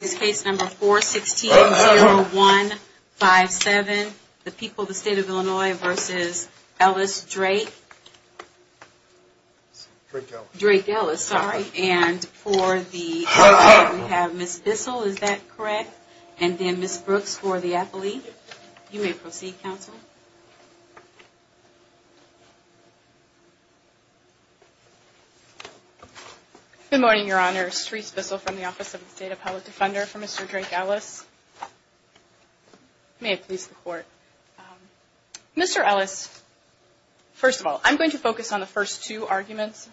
This case number 416-0157, The People of the State of Illinois v. Ellis Drake. Drake-Ellis. Drake-Ellis, sorry. And for the appellate we have Ms. Bissell, is that correct? And then Ms. Brooks for the appellate. You may proceed, counsel. Good morning, Your Honors. Therese Bissell from the Office of the State Appellate Defender for Mr. Drake-Ellis. May it please the Court. Mr. Ellis, first of all, I'm going to focus on the first two arguments,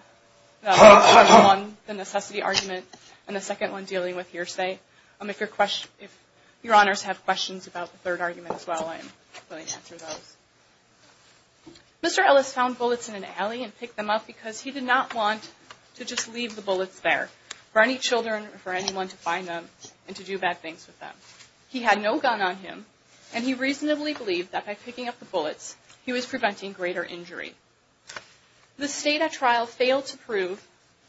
the necessity argument and the second one dealing with hearsay. If Your Honors have questions about the third argument as well, I'm willing to answer those. Mr. Ellis found bullets in an alley and picked them up because he did not want to just leave the bullets there for any children or for anyone to find them and to do bad things with them. He had no gun on him, and he reasonably believed that by picking up the bullets, he was preventing greater injury. The State at trial failed to prove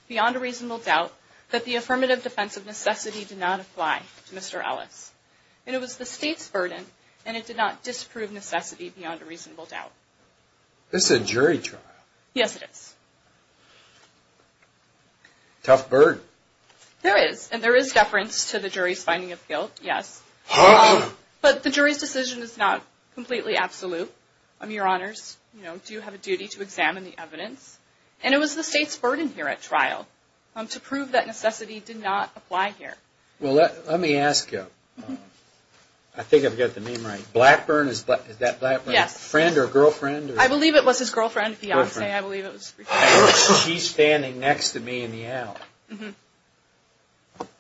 beyond a reasonable doubt that the affirmative defense of necessity did not apply to Mr. Ellis. And it was the State's burden, and it did not disprove necessity beyond a reasonable doubt. This is a jury trial. Yes, it is. Tough burden. There is, and there is deference to the jury's finding of guilt, yes. But the jury's decision is not completely absolute. Your Honors, you know, do have a duty to examine the evidence. And it was the State's burden here at trial to prove that necessity did not apply here. Well, let me ask you. I think I've got the name right. Blackburn, is that Blackburn's friend or girlfriend? I believe it was his girlfriend, fiancee, I believe it was. She's standing next to me in the alley.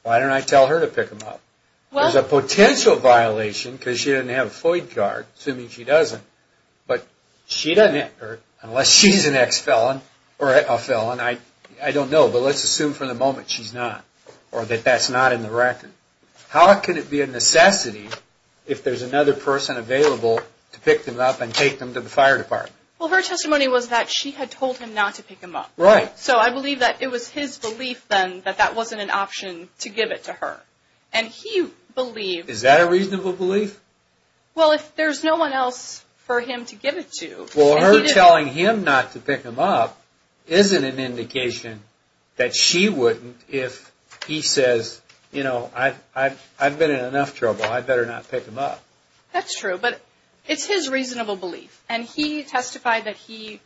Why didn't I tell her to pick them up? There's a potential violation because she doesn't have a FOIA card, assuming she doesn't. But she doesn't, unless she's an ex-felon or a felon, I don't know. But let's assume for the moment she's not or that that's not in the record. How can it be a necessity if there's another person available to pick them up and take them to the fire department? Well, her testimony was that she had told him not to pick them up. Right. So I believe that it was his belief then that that wasn't an option to give it to her. And he believed... Is that a reasonable belief? Well, if there's no one else for him to give it to... Well, her telling him not to pick them up isn't an indication that she wouldn't if he says, you know, I've been in enough trouble, I better not pick them up. That's true. But it's his reasonable belief. And he testified that he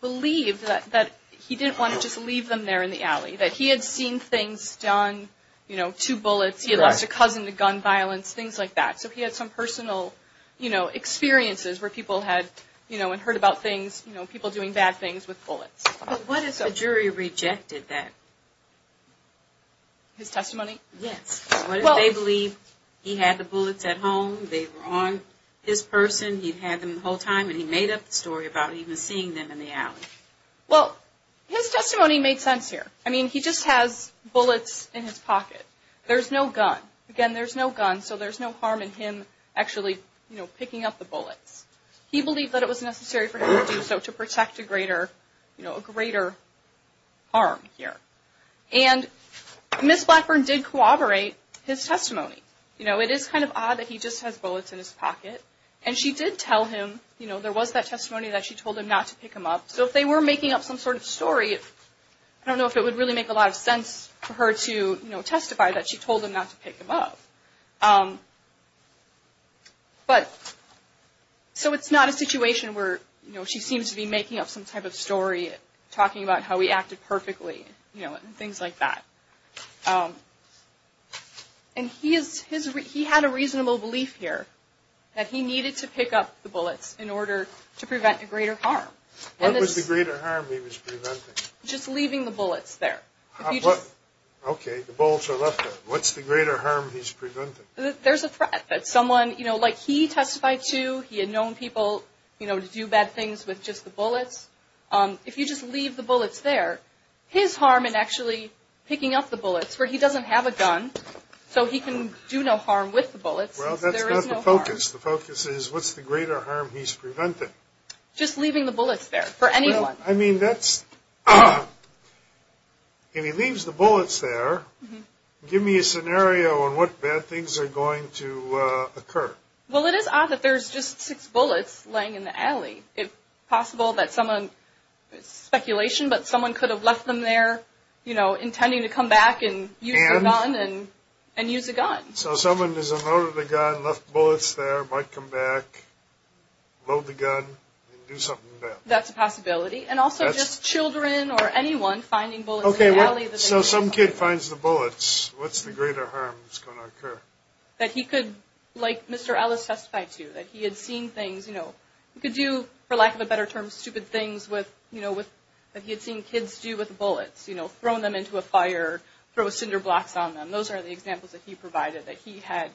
believed that he didn't want to just leave them there in the alley, that he had seen things done, you know, two bullets, he lost a cousin to gun violence, things like that. So he had some personal, you know, experiences where people had, you know, and heard about things, you know, people doing bad things with bullets. But what if the jury rejected that? His testimony? Yes. What if they believed he had the bullets at home, they were on his person, he'd had them the whole time, and he made up the story about even seeing them in the alley? Well, his testimony made sense here. I mean, he just has bullets in his pocket. There's no gun. Again, there's no gun, so there's no harm in him actually, you know, picking up the bullets. He believed that it was necessary for him to do so to protect a greater, you know, a greater harm here. And Ms. Blackburn did corroborate his testimony. You know, it is kind of odd that he just has bullets in his pocket. And she did tell him, you know, there was that testimony that she told him not to pick them up. So if they were making up some sort of story, I don't know if it would really make a lot of sense for her to, you know, testify that she told him not to pick them up. But so it's not a situation where, you know, she seems to be making up some type of story, talking about how he acted perfectly, you know, and things like that. And he had a reasonable belief here that he needed to pick up the bullets in order to prevent a greater harm. What was the greater harm he was preventing? Just leaving the bullets there. Okay, the bullets are left there. What's the greater harm he's preventing? There's a threat that someone, you know, like he testified to, he had known people, you know, to do bad things with just the bullets. If you just leave the bullets there, his harm in actually picking up the bullets, where he doesn't have a gun, so he can do no harm with the bullets. Well, that's not the focus. The focus is what's the greater harm he's preventing? Just leaving the bullets there for anyone. Well, I mean, that's, if he leaves the bullets there, give me a scenario on what bad things are going to occur. Well, it is odd that there's just six bullets laying in the alley. It's possible that someone, it's speculation, but someone could have left them there, you know, intending to come back and use the gun. And? And use the gun. So someone has unloaded the gun, left the bullets there, might come back, load the gun, and do something bad. That's a possibility. And also just children or anyone finding bullets in the alley. Okay, so some kid finds the bullets. What's the greater harm that's going to occur? That he could, like Mr. Ellis testified to, that he had seen things, you know, he could do, for lack of a better term, stupid things with, you know, that he had seen kids do with bullets, you know, throw them into a fire, throw cinder blocks on them. And those are the examples that he provided that he had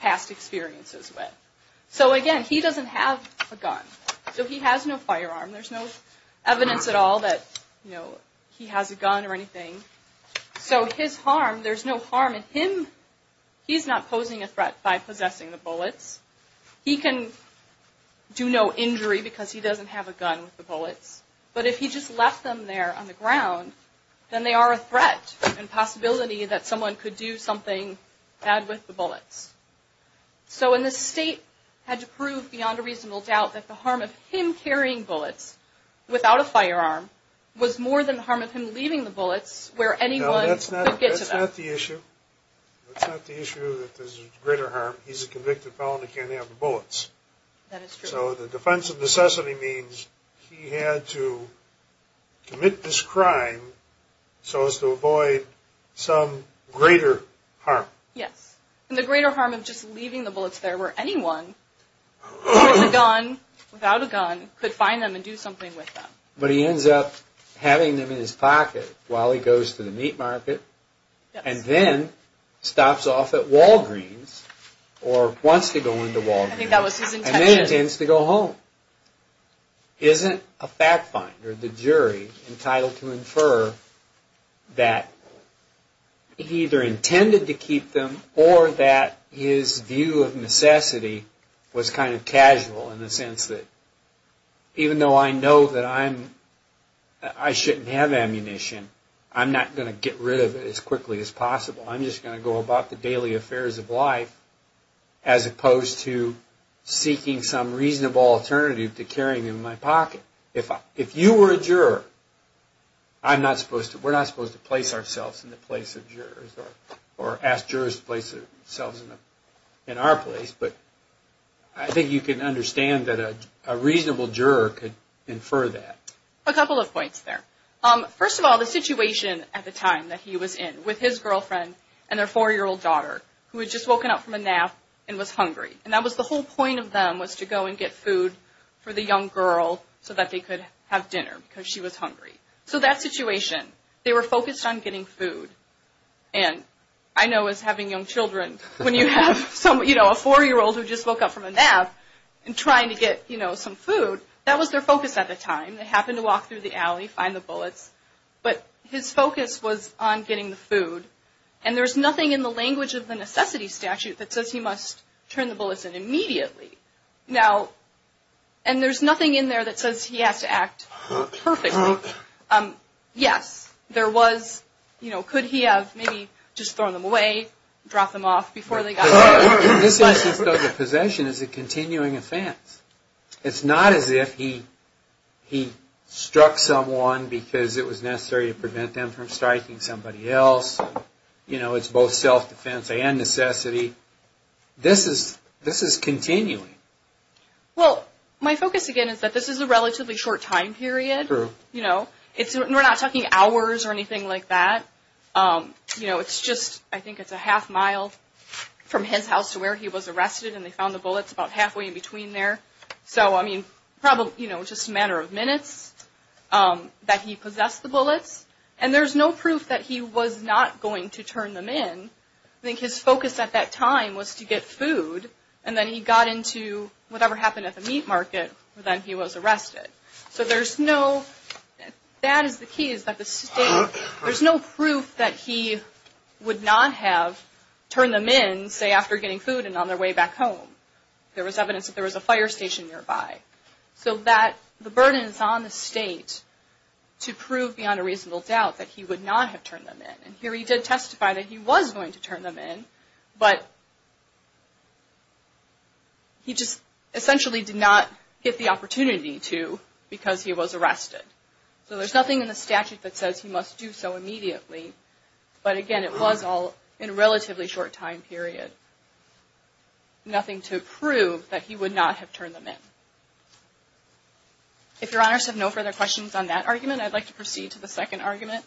past experiences with. So again, he doesn't have a gun. So he has no firearm. There's no evidence at all that, you know, he has a gun or anything. So his harm, there's no harm in him. He's not posing a threat by possessing the bullets. He can do no injury because he doesn't have a gun with the bullets. But if he just left them there on the ground, then they are a threat and possibility that someone could do something bad with the bullets. So in this state had to prove beyond a reasonable doubt that the harm of him carrying bullets without a firearm was more than the harm of him leaving the bullets where anyone could get to them. No, that's not the issue. That's not the issue that there's greater harm. He's a convicted felon. He can't have the bullets. That is true. So the defense of necessity means he had to commit this crime so as to avoid some greater harm. Yes. And the greater harm of just leaving the bullets there where anyone with a gun, without a gun, could find them and do something with them. But he ends up having them in his pocket while he goes to the meat market and then stops off at Walgreens or wants to go into Walgreens. I think that was his intention. And then he intends to go home. Isn't a fact finder, the jury, entitled to infer that he either intended to keep them or that his view of necessity was kind of casual in the sense that even though I know that I shouldn't have ammunition, I'm not going to get rid of it as quickly as possible. I'm just going to go about the daily affairs of life as opposed to seeking some reasonable alternative to carrying them in my pocket. If you were a juror, we're not supposed to place ourselves in the place of jurors or ask jurors to place themselves in our place. But I think you can understand that a reasonable juror could infer that. A couple of points there. First of all, the situation at the time that he was in with his girlfriend and their four-year-old daughter who had just woken up from a nap and was hungry. And that was the whole point of them was to go and get food for the young girl so that they could have dinner because she was hungry. So that situation, they were focused on getting food. And I know as having young children, when you have a four-year-old who just woke up from a nap and trying to get some food, that was their focus at the time. They happened to walk through the alley, find the bullets. But his focus was on getting the food. And there's nothing in the language of the necessity statute that says he must turn the bullets in immediately. And there's nothing in there that says he has to act perfectly. Yes, there was. You know, could he have maybe just thrown them away, dropped them off before they got there? This instance of the possession is a continuing offense. It's not as if he struck someone because it was necessary to prevent them from striking somebody else. You know, it's both self-defense and necessity. This is continuing. Well, my focus again is that this is a relatively short time period. True. You know, we're not talking hours or anything like that. You know, it's just, I think it's a half mile from his house to where he was arrested, and they found the bullets about halfway in between there. So, I mean, probably, you know, just a matter of minutes that he possessed the bullets. And there's no proof that he was not going to turn them in. I think his focus at that time was to get food. And then he got into whatever happened at the meat market, and then he was arrested. So there's no, that is the key, is that the state, there's no proof that he would not have turned them in, say, after getting food and on their way back home. There was evidence that there was a fire station nearby. So that, the burden is on the state to prove beyond a reasonable doubt that he would not have turned them in. And here he did testify that he was going to turn them in, but he just essentially did not get the opportunity to because he was arrested. So there's nothing in the statute that says he must do so immediately. But again, it was all in a relatively short time period. Nothing to prove that he would not have turned them in. If Your Honors have no further questions on that argument, I'd like to proceed to the second argument.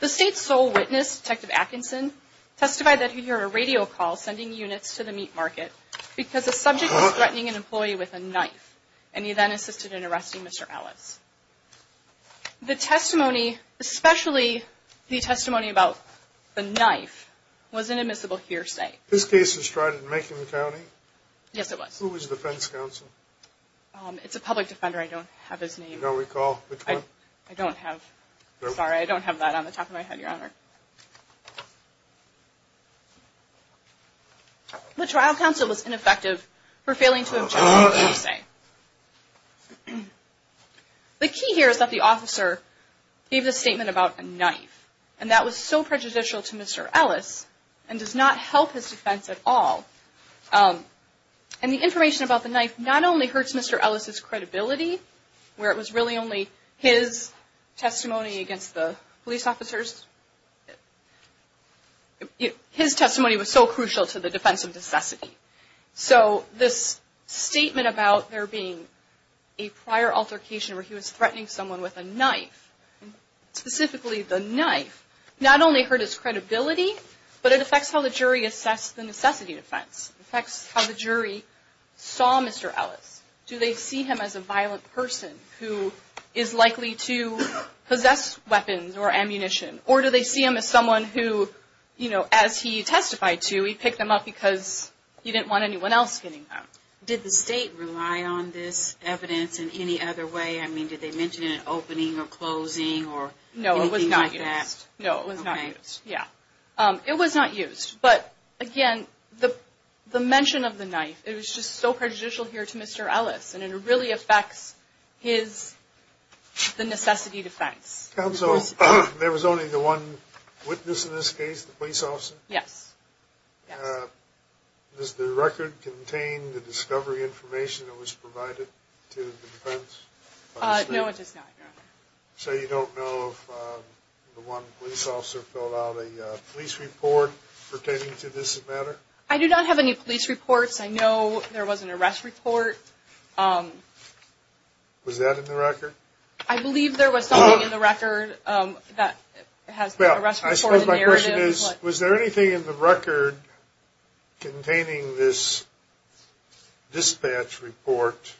The state's sole witness, Detective Atkinson, testified that he heard a radio call sending units to the meat market because a subject was threatening an employee with a knife, and he then assisted in arresting Mr. Ellis. The testimony, especially the testimony about the knife, was an admissible hearsay. This case was tried in Macon County? Yes, it was. Who was the defense counsel? It's a public defender. I don't have his name. You don't recall? Which one? I don't have. Sorry, I don't have that on the top of my head, Your Honor. The trial counsel was ineffective for failing to object to the hearsay. The key here is that the officer gave the statement about a knife, and that was so prejudicial to Mr. Ellis and does not help his defense at all. And the information about the knife not only hurts Mr. Ellis' credibility, where it was really only his testimony against the police officers. His testimony was so crucial to the defense of necessity. So this statement about there being a prior altercation where he was threatening someone with a knife, specifically the knife, not only hurt his credibility, but it affects how the jury assessed the necessity defense. It affects how the jury saw Mr. Ellis. Do they see him as a violent person who is likely to possess weapons or ammunition? Or do they see him as someone who, you know, as he testified to, he picked them up because he didn't want anyone else getting them? Did the state rely on this evidence in any other way? I mean, did they mention an opening or closing or anything like that? No, it was not used. No, it was not used. Okay. Yeah. It was not used. But, again, the mention of the knife, it was just so prejudicial here to Mr. Ellis, and it really affects his, the necessity defense. Counsel, there was only the one witness in this case, the police officer? Yes. Does the record contain the discovery information that was provided to the defense? No, it does not, Your Honor. So you don't know if the one police officer filled out a police report pertaining to this matter? I do not have any police reports. I know there was an arrest report. Was that in the record? I believe there was something in the record that has an arrest report. My question is, was there anything in the record containing this dispatch report?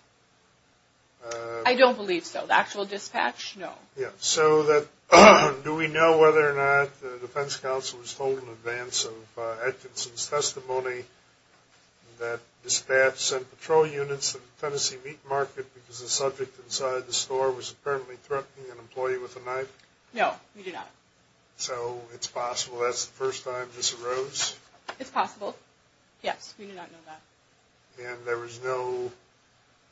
I don't believe so. The actual dispatch? No. So do we know whether or not the defense counsel was told in advance of Atkinson's testimony that dispatch sent patrol units to the Tennessee meat market because the subject inside the store was apparently threatening an employee with a knife? No, we do not. So it's possible that's the first time this arose? It's possible. Yes, we do not know that. And there was no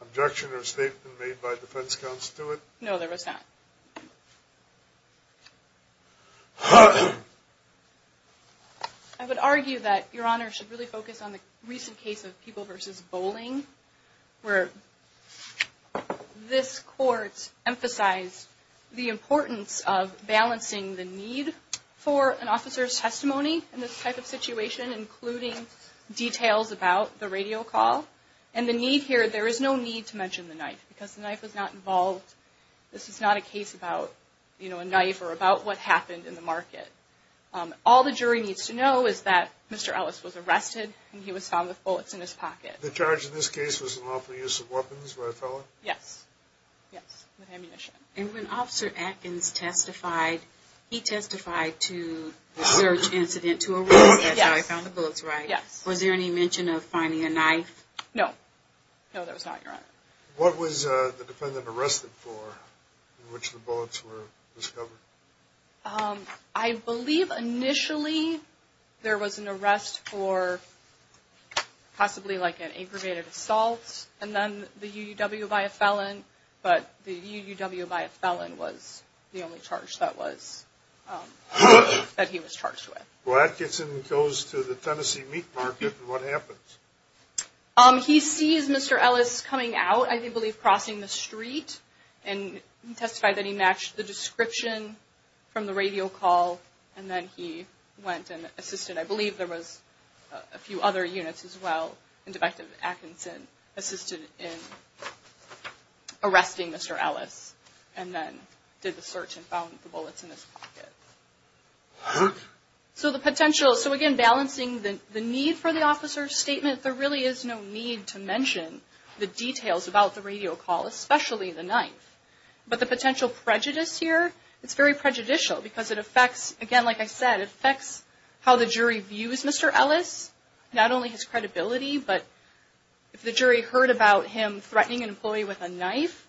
objection or statement made by defense counsel to it? No, there was not. I would argue that Your Honor should really focus on the recent case of people versus bowling, where this court emphasized the importance of balancing the need for an officer's testimony in this type of situation, including details about the radio call. And the need here, there is no need to mention the knife because the knife was not involved. This is not a case about, you know, a knife or about what happened in the market. All the jury needs to know is that Mr. Ellis was arrested and he was found with bullets in his pocket. The charge in this case was unlawful use of weapons by a fellow? Yes. Yes, with ammunition. And when Officer Atkins testified, he testified to the search incident to arrest him. Yes. That's how he found the bullets, right? Yes. Was there any mention of finding a knife? No. No, there was not, Your Honor. What was the defendant arrested for in which the bullets were discovered? I believe initially there was an arrest for possibly like an aggravated assault and then the UUW by a felon, but the UUW by a felon was the only charge that he was charged with. Well, that gets him and goes to the Tennessee meat market. What happens? He sees Mr. Ellis coming out, I believe crossing the street, and he testified that he matched the description from the radio call, and then he went and assisted, I believe there was a few other units as well, and Defective Atkinson assisted in arresting Mr. Ellis and then did the search and found the bullets in his pocket. So again, balancing the need for the officer's statement, there really is no need to mention the details about the radio call, especially the knife. But the potential prejudice here, it's very prejudicial because it affects, again, like I said, it affects how the jury views Mr. Ellis, not only his credibility, but if the jury heard about him threatening an employee with a knife,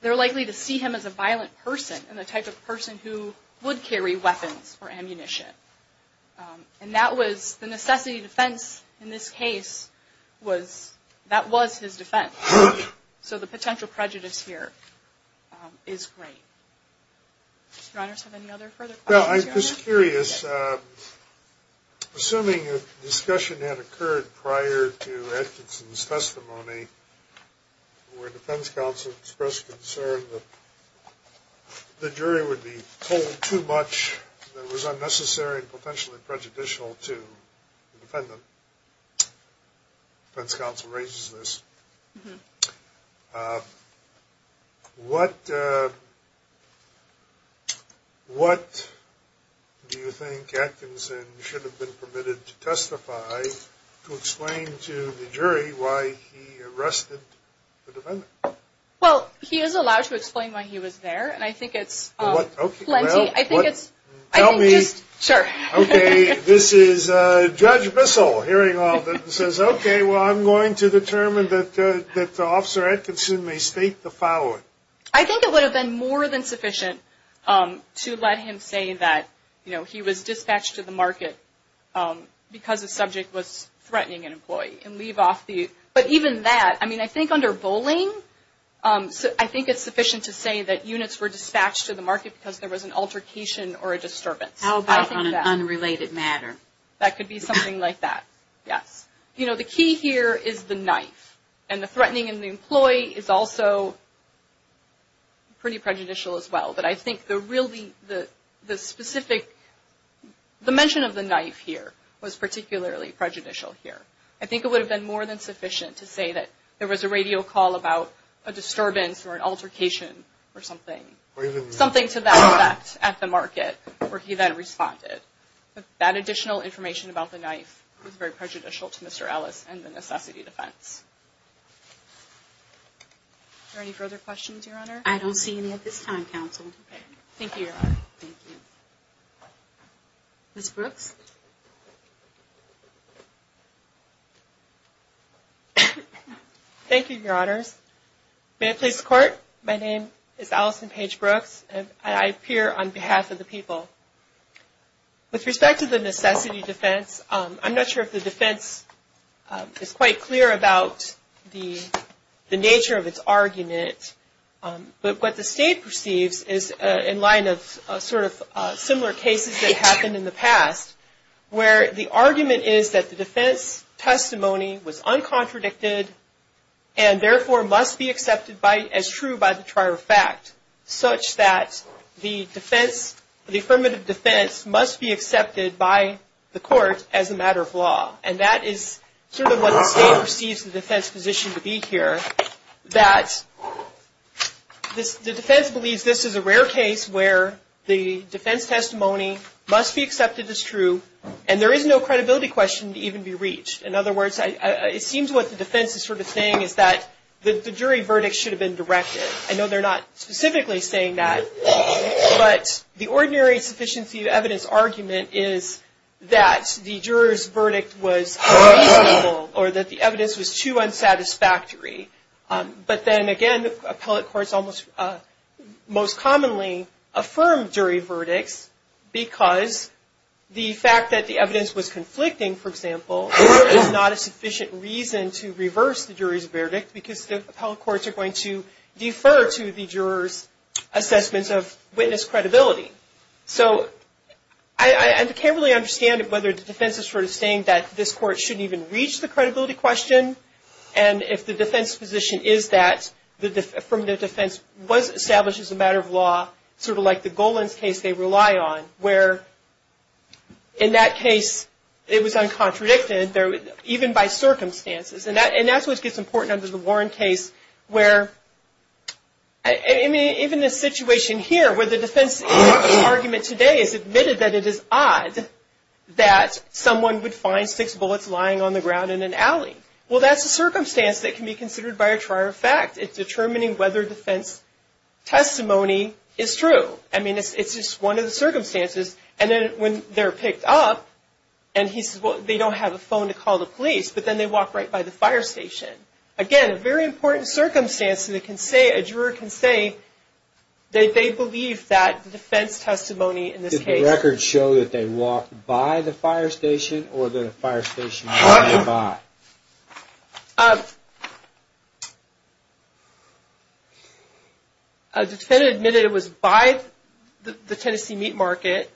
they're likely to see him as a violent person and the type of person who would carry weapons or ammunition. And that was the necessity of defense in this case was that was his defense. So the potential prejudice here is great. Do you have any other further questions? Well, I'm just curious, assuming a discussion had occurred prior to Atkinson's testimony where defense counsel expressed concern that the jury would be told too much that was unnecessary and potentially prejudicial to the defendant. Defense counsel raises this. What do you think Atkinson should have been permitted to testify to explain to the jury why he arrested the defendant? Well, he is allowed to explain why he was there, and I think it's plenty. Tell me. Sure. Okay, this is Judge Bissell hearing all of it and says, okay, well, I'm going to determine that Officer Atkinson may state the following. I think it would have been more than sufficient to let him say that, you know, he was dispatched to the market because the subject was threatening an employee and leave off the – but even that, I mean, I think under bowling, I think it's sufficient to say that units were dispatched to the market because there was an altercation or a disturbance. How about on an unrelated matter? That could be something like that, yes. You know, the key here is the knife, and the threatening of the employee is also pretty prejudicial as well. But I think the really – the specific dimension of the knife here was particularly prejudicial here. I think it would have been more than sufficient to say that there was a radio call about a disturbance or an altercation or something, something to that effect at the market where he then responded. That additional information about the knife was very prejudicial to Mr. Ellis and the necessity defense. Are there any further questions, Your Honor? I don't see any at this time, Counsel. Thank you, Your Honor. Thank you. Ms. Brooks? Yes. Thank you, Your Honors. May it please the Court, my name is Allison Paige Brooks, and I appear on behalf of the people. With respect to the necessity defense, I'm not sure if the defense is quite clear about the nature of its argument. But what the State perceives is in line of sort of similar cases that happened in the past, where the argument is that the defense testimony was uncontradicted and therefore must be accepted as true by the trial of fact, such that the affirmative defense must be accepted by the Court as a matter of law. And that is sort of what the State perceives the defense position to be here, that the defense believes this is a rare case where the defense testimony must be accepted as true and there is no credibility question to even be reached. In other words, it seems what the defense is sort of saying is that the jury verdict should have been directed. I know they're not specifically saying that, but the ordinary sufficiency of evidence argument is that the juror's verdict was unreasonable or that the evidence was too unsatisfactory. But then again, appellate courts almost most commonly affirm jury verdicts because the fact that the evidence was conflicting, for example, is not a sufficient reason to reverse the jury's verdict because the appellate courts are going to defer to the juror's assessments of witness credibility. So I can't really understand whether the defense is sort of saying that this Court shouldn't even reach the credibility question and if the defense position is that the affirmative defense was established as a matter of law, sort of like the Golan's case they rely on, where in that case it was uncontradicted even by circumstances. And that's what gets important under the Warren case where, I mean, even the situation here where the defense argument today is admitted that it is odd that someone would find six bullets lying on the ground in an alley. Well, that's a circumstance that can be considered by a trial of fact. It's determining whether defense testimony is true. I mean, it's just one of the circumstances. And then when they're picked up and he says, well, they don't have a phone to call the police, but then they walk right by the fire station. Again, a very important circumstance that a juror can say that they believe that the defense testimony in this case does the record show that they walked by the fire station or that the fire station was nearby? A defendant admitted it was by the Tennessee meat market.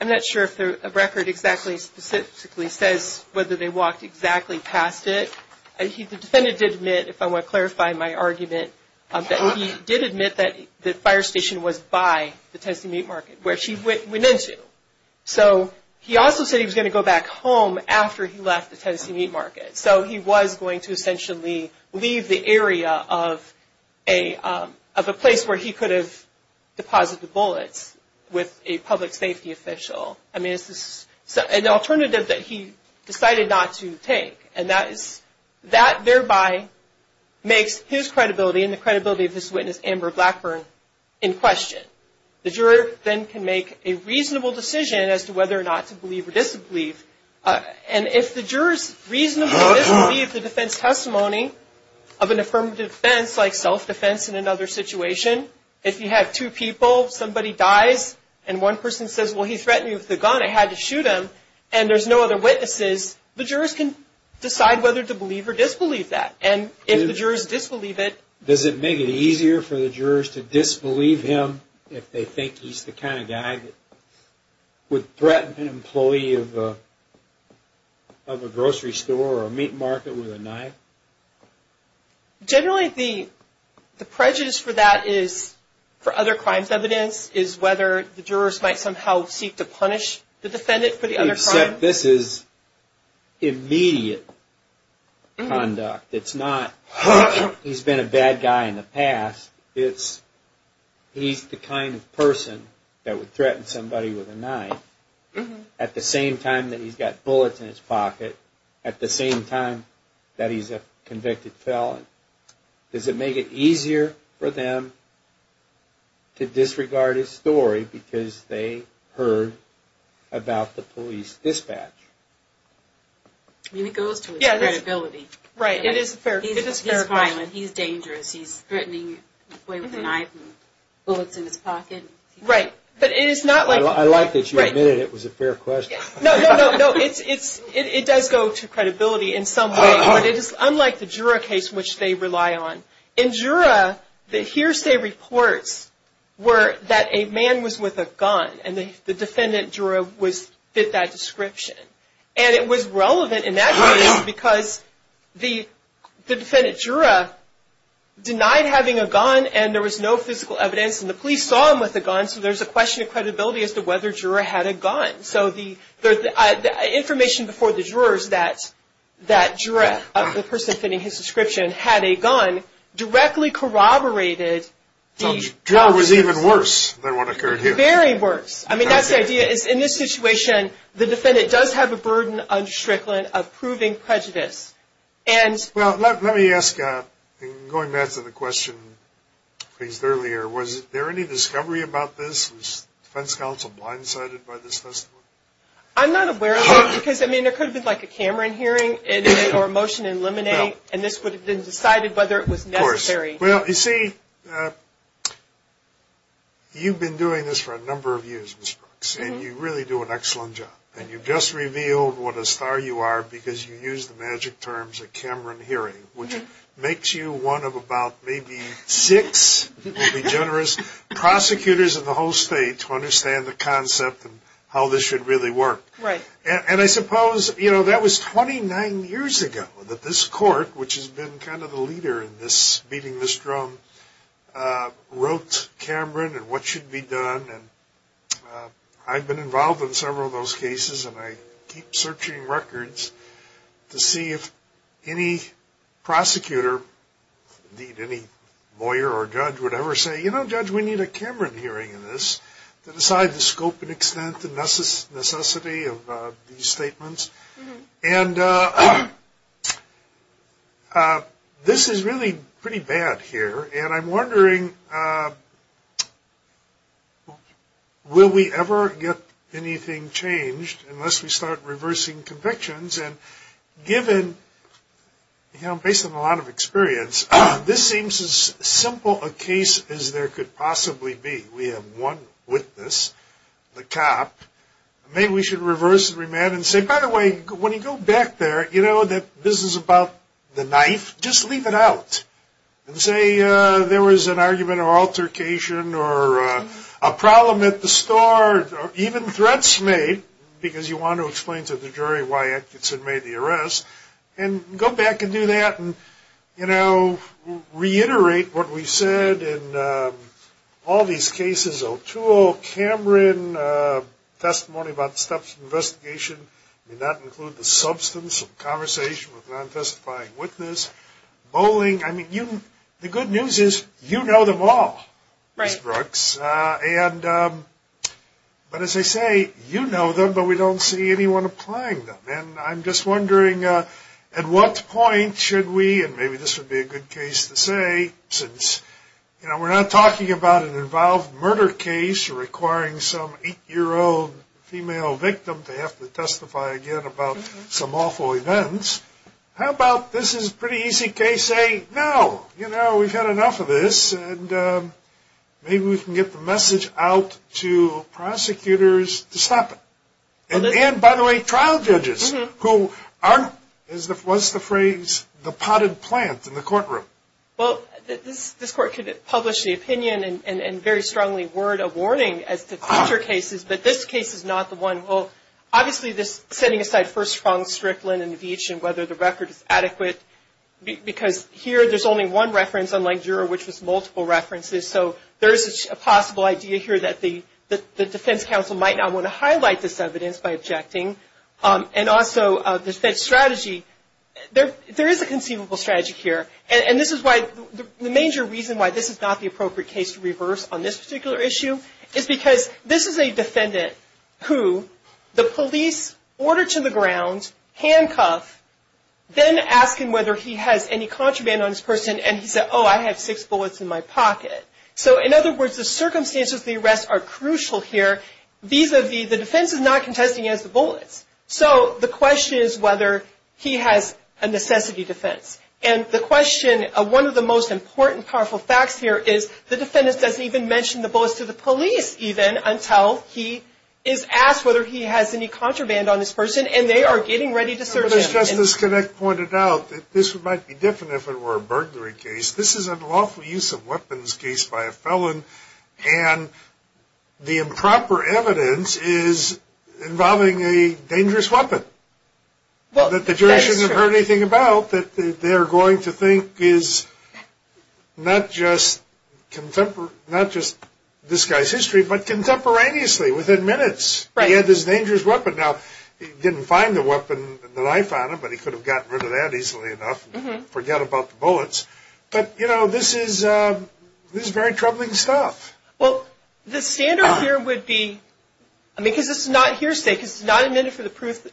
I'm not sure if the record exactly specifically says whether they walked exactly past it. The defendant did admit, if I want to clarify my argument, that he did admit that the fire station was by the Tennessee meat market where she went into. So he also said he was going to go back home after he left the Tennessee meat market. So he was going to essentially leave the area of a place where he could have deposited the bullets with a public safety official. I mean, it's an alternative that he decided not to take. And that thereby makes his credibility and the credibility of his witness, Amber Blackburn, in question. The juror then can make a reasonable decision as to whether or not to believe or disbelieve. And if the jurors reasonably disbelieve the defense testimony of an affirmative defense, like self-defense in another situation, if you have two people, somebody dies, and one person says, well, he threatened me with a gun, I had to shoot him, and there's no other witnesses, the jurors can decide whether to believe or disbelieve that. And if the jurors disbelieve it... Does it make it easier for the jurors to disbelieve him if they think he's the kind of guy that would threaten an employee of a grocery store or a meat market with a knife? Generally, the prejudice for that is, for other crimes evidence, is whether the jurors might somehow seek to punish the defendant for the other crime. Except this is immediate conduct, it's not, he's been a bad guy in the past, it's, he's the kind of person that would threaten somebody with a knife at the same time that he's got bullets in his pocket, at the same time that he's a convicted felon. Does it make it easier for them to disregard his story because they heard about the police dispatch? I mean, it goes to his credibility. Right, it is a fair question. He's violent, he's dangerous, he's threatening an employee with a knife and bullets in his pocket. Right, but it is not like... I like that you admitted it was a fair question. No, no, no, no, it does go to credibility in some way, but it is unlike the juror case which they rely on. In juror, the hearsay reports were that a man was with a gun, and the defendant juror was, did that description. And it was relevant in that case because the defendant juror denied having a gun and there was no physical evidence, and the police saw him with a gun, so there's a question of credibility as to whether juror had a gun. So the information before the jurors that juror, the person fitting his description, had a gun directly corroborated the... The juror was even worse than what occurred here. Very worse. I mean, that's the idea. In this situation, the defendant does have a burden on Strickland of proving prejudice. And... Well, let me ask, going back to the question raised earlier, was there any discovery about this? Was defense counsel blindsided by this testimony? I'm not aware of it because, I mean, there could have been, like, a Cameron hearing or a motion to eliminate, and this would have been decided whether it was necessary. Of course. Well, you see, you've been doing this for a number of years, Ms. Brooks, and you really do an excellent job. And you just revealed what a star you are because you used the magic terms, a Cameron hearing, which makes you one of about maybe six, maybe generous, prosecutors in the whole state to understand the concept of how this should really work. Right. And I suppose, you know, that was 29 years ago that this court, which has been kind of the leader in beating this drum, wrote Cameron and what should be done. I've been involved in several of those cases, and I keep searching records to see if any prosecutor, indeed any lawyer or judge, would ever say, you know, judge, we need a Cameron hearing in this to decide the scope and extent and necessity of these statements. And this is really pretty bad here, and I'm wondering, will we ever get anything changed unless we start reversing convictions? And given, you know, based on a lot of experience, this seems as simple a case as there could possibly be. We have one witness, the cop. Maybe we should reverse the remand and say, by the way, when you go back there, you know, that this is about the knife, just leave it out. And say there was an argument or altercation or a problem at the store, or even threats made, because you want to explain to the jury why Edgerton made the arrest, and go back and do that and, you know, reiterate what we said in all these cases. O'Toole, Cameron, testimony about the steps of investigation, did not include the substance of conversation with a non-testifying witness. Bowling, I mean, the good news is you know them all, Ms. Brooks. But as I say, you know them, but we don't see anyone applying them. And I'm just wondering, at what point should we, and maybe this would be a good case to say, since, you know, we're not talking about an involved murder case requiring some 8-year-old female victim to have to testify again about some awful events. How about this is a pretty easy case, say, no, you know, we've had enough of this, and maybe we can get the message out to prosecutors to stop it. And, by the way, trial judges who aren't, what's the phrase, the potted plant in the courtroom. Well, this court could publish the opinion and very strongly word a warning as to future cases, but this case is not the one. Well, obviously, this setting aside first-pronged strickland in the beach and whether the record is adequate, because here there's only one reference, unlike Jura, which was multiple references. So there is a possible idea here that the defense counsel might not want to highlight this evidence by objecting. And also, the fed strategy, there is a conceivable strategy here. And this is why the major reason why this is not the appropriate case to reverse on this particular issue is because this is a defendant who the police order to the ground, handcuff, then ask him whether he has any contraband on his person, and he said, oh, I have six bullets in my pocket. So, in other words, the circumstances of the arrest are crucial here. Vis-a-vis, the defense is not contesting he has the bullets. So the question is whether he has a necessity defense. And the question, one of the most important powerful facts here is the defendant doesn't even mention the bullets to the police even until he is asked whether he has any contraband on his person, and they are getting ready to search him. Justice Connick pointed out that this might be different if it were a burglary case. This is a lawful use of weapons case by a felon, and the improper evidence is involving a dangerous weapon. Well, that the jury shouldn't have heard anything about that they are going to think is not just this guy's history, but contemporaneously within minutes. Right. He had this dangerous weapon. Now, he didn't find the weapon, the knife on him, but he could have gotten rid of that easily enough and forget about the bullets. But, you know, this is very troubling stuff. Well, the standard here would be, I mean, because this is not hearsay, because it's not amended to prove the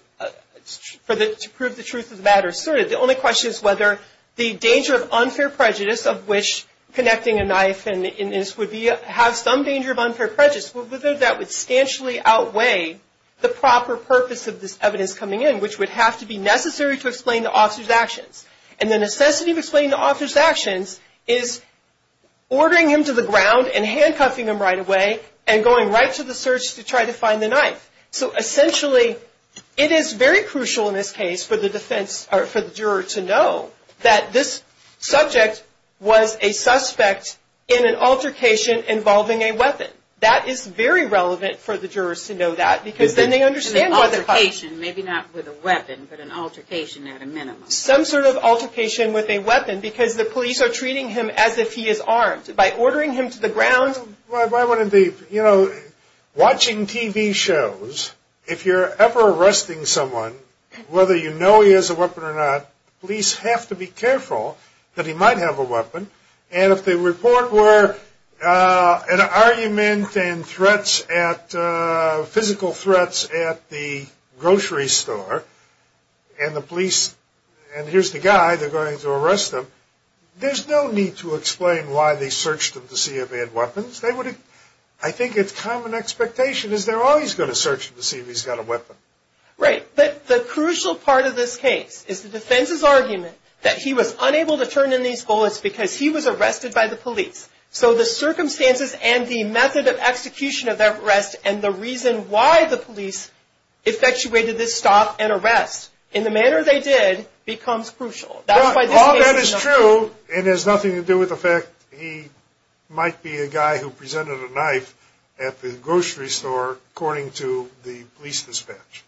truth of the matter asserted. The only question is whether the danger of unfair prejudice of which connecting a knife and this would have some danger of unfair prejudice, whether that would substantially outweigh the proper purpose of this evidence coming in, And the necessity of explaining the author's actions is ordering him to the ground and handcuffing him right away and going right to the search to try to find the knife. So, essentially, it is very crucial in this case for the defense or for the juror to know that this subject was a suspect in an altercation involving a weapon. That is very relevant for the jurors to know that because then they understand why they're caught. An altercation, maybe not with a weapon, but an altercation at a minimum. Some sort of altercation with a weapon because the police are treating him as if he is armed. By ordering him to the ground... Well, if I want to be, you know, watching TV shows, if you're ever arresting someone, whether you know he has a weapon or not, police have to be careful that he might have a weapon. And if the report were an argument and threats at, physical threats at the grocery store, and the police, and here's the guy, they're going to arrest him, there's no need to explain why they searched him to see if he had weapons. I think it's common expectation is they're always going to search him to see if he's got a weapon. Right. But the crucial part of this case is the defense's argument that he was unable to turn in these bullets because he was arrested by the police. So the circumstances and the method of execution of that arrest and the reason why the police effectuated this stop and arrest in the manner they did becomes crucial. All that is true and has nothing to do with the fact he might be a guy who presented a knife at the grocery store according to the police dispatch.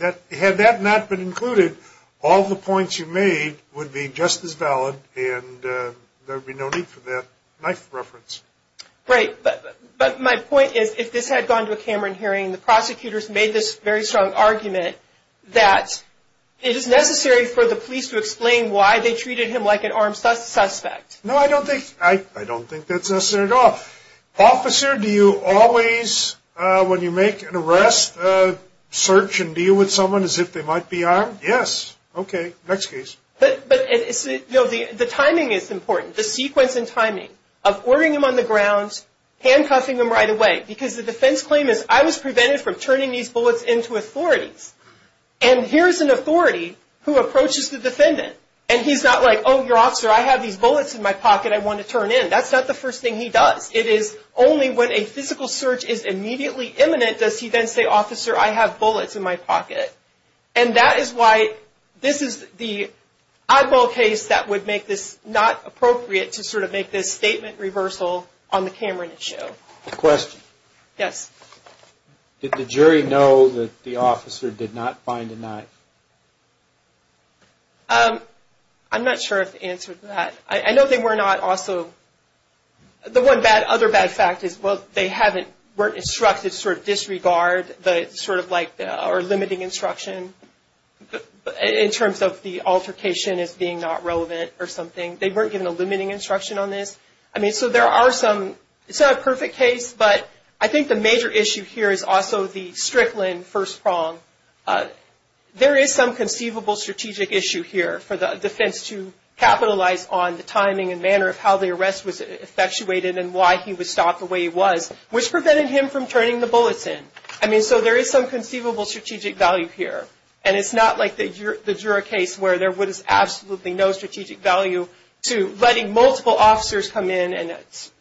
Had that not been included, all the points you made would be just as valid and there would be no need for that knife reference. Right. But my point is if this had gone to a Cameron hearing, the prosecutors made this very strong argument that it is necessary for the police to explain why they treated him like an armed suspect. No, I don't think that's necessary at all. Officer, do you always, when you make an arrest, search and deal with someone as if they might be armed? Yes. Okay. Next case. The timing is important, the sequence and timing of ordering him on the ground, handcuffing him right away because the defense claim is I was prevented from turning these bullets into authorities and here's an authority who approaches the defendant and he's not like, oh, your officer, I have these bullets in my pocket, I want to turn in. That's not the first thing he does. It is only when a physical search is immediately imminent does he then say, officer, I have bullets in my pocket. And that is why this is the oddball case that would make this not appropriate to sort of make this statement reversal on the Cameron issue. Question. Yes. Did the jury know that the officer did not find a knife? I'm not sure if the answer to that. I know they were not also, the one bad, other bad fact is, well, they haven't, weren't instructed to sort of disregard the sort of like or limiting instruction in terms of the altercation as being not relevant or something. They weren't given a limiting instruction on this. I mean, so there are some, it's not a perfect case, but I think the major issue here is also the Strickland first prong. There is some conceivable strategic issue here for the defense to capitalize on the timing and manner of how the arrest was effectuated and why he was stopped the way he was, which prevented him from turning the bullets in. I mean, so there is some conceivable strategic value here. And it's not like the juror case where there was absolutely no strategic value to letting multiple officers come in and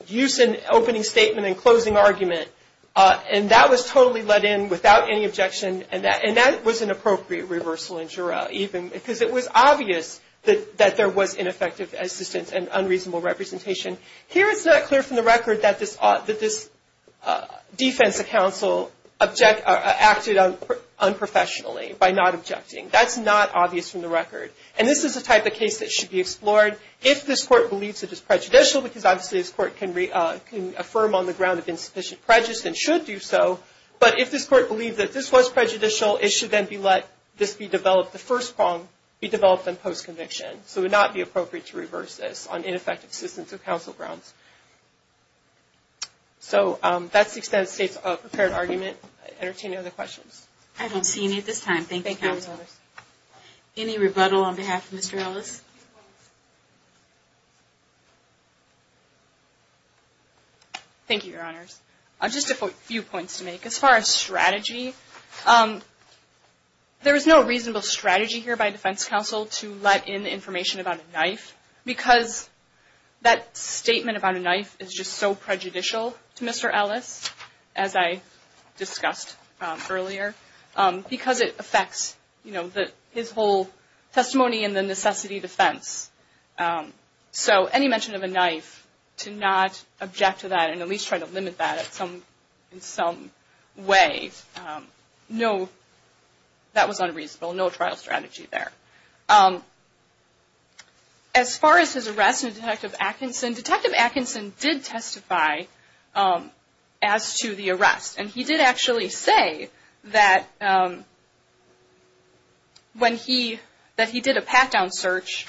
use an opening statement and closing argument. And that was totally let in without any objection. And that was an appropriate reversal in juror even because it was obvious that there was ineffective assistance and unreasonable representation. Here it's not clear from the record that this defense counsel acted unprofessionally by not objecting. That's not obvious from the record. And this is the type of case that should be explored if this court believes it is prejudicial because obviously this court can affirm on the ground of insufficient prejudice and should do so. But if this court believed that this was prejudicial, it should then be let this be developed, the first prong be developed on post-conviction. So it would not be appropriate to reverse this on ineffective assistance of counsel grounds. So that's the extent of the state's prepared argument. Are there any other questions? I don't see any at this time. Thank you, counsel. Any rebuttal on behalf of Mr. Ellis? Thank you, Your Honors. Just a few points to make. As far as strategy, there is no reasonable strategy here by defense counsel to let in information about a knife because that statement about a knife is just so prejudicial to Mr. Ellis, as I discussed earlier, because it affects his whole testimony in the necessity defense. So any mention of a knife, to not object to that and at least try to limit that in some way, that was unreasonable. No trial strategy there. As far as his arrest in Detective Atkinson, Detective Atkinson did testify as to the arrest. And he did actually say that when he, that he did a pat-down search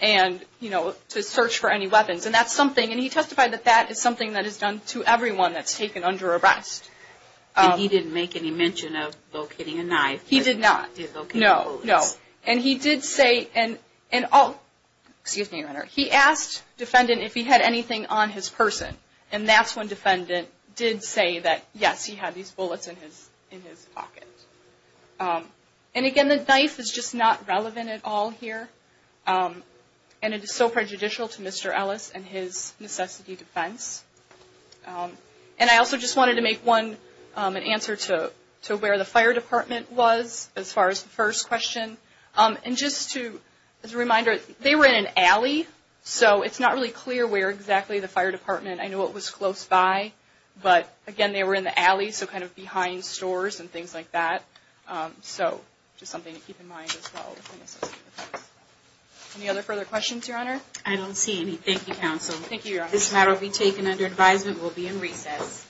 and, you know, to search for any weapons. And that's something, and he testified that that is something that is done to everyone that's taken under arrest. And he didn't make any mention of locating a knife. He did not. No, no. And he did say, and all, excuse me, Your Honor, he asked defendant if he had anything on his person. And that's when defendant did say that, yes, he had these bullets in his pocket. And again, the knife is just not relevant at all here. And it is so prejudicial to Mr. Ellis and his necessity defense. And I also just wanted to make one, an answer to where the fire department was as far as the first question. And just to, as a reminder, they were in an alley. So it's not really clear where exactly the fire department, I know it was close by. But again, they were in the alley, so kind of behind stores and things like that. So just something to keep in mind as well. Any other further questions, Your Honor? I don't see any. Thank you, counsel. Thank you, Your Honor. This matter will be taken under advisement. We'll be in recess.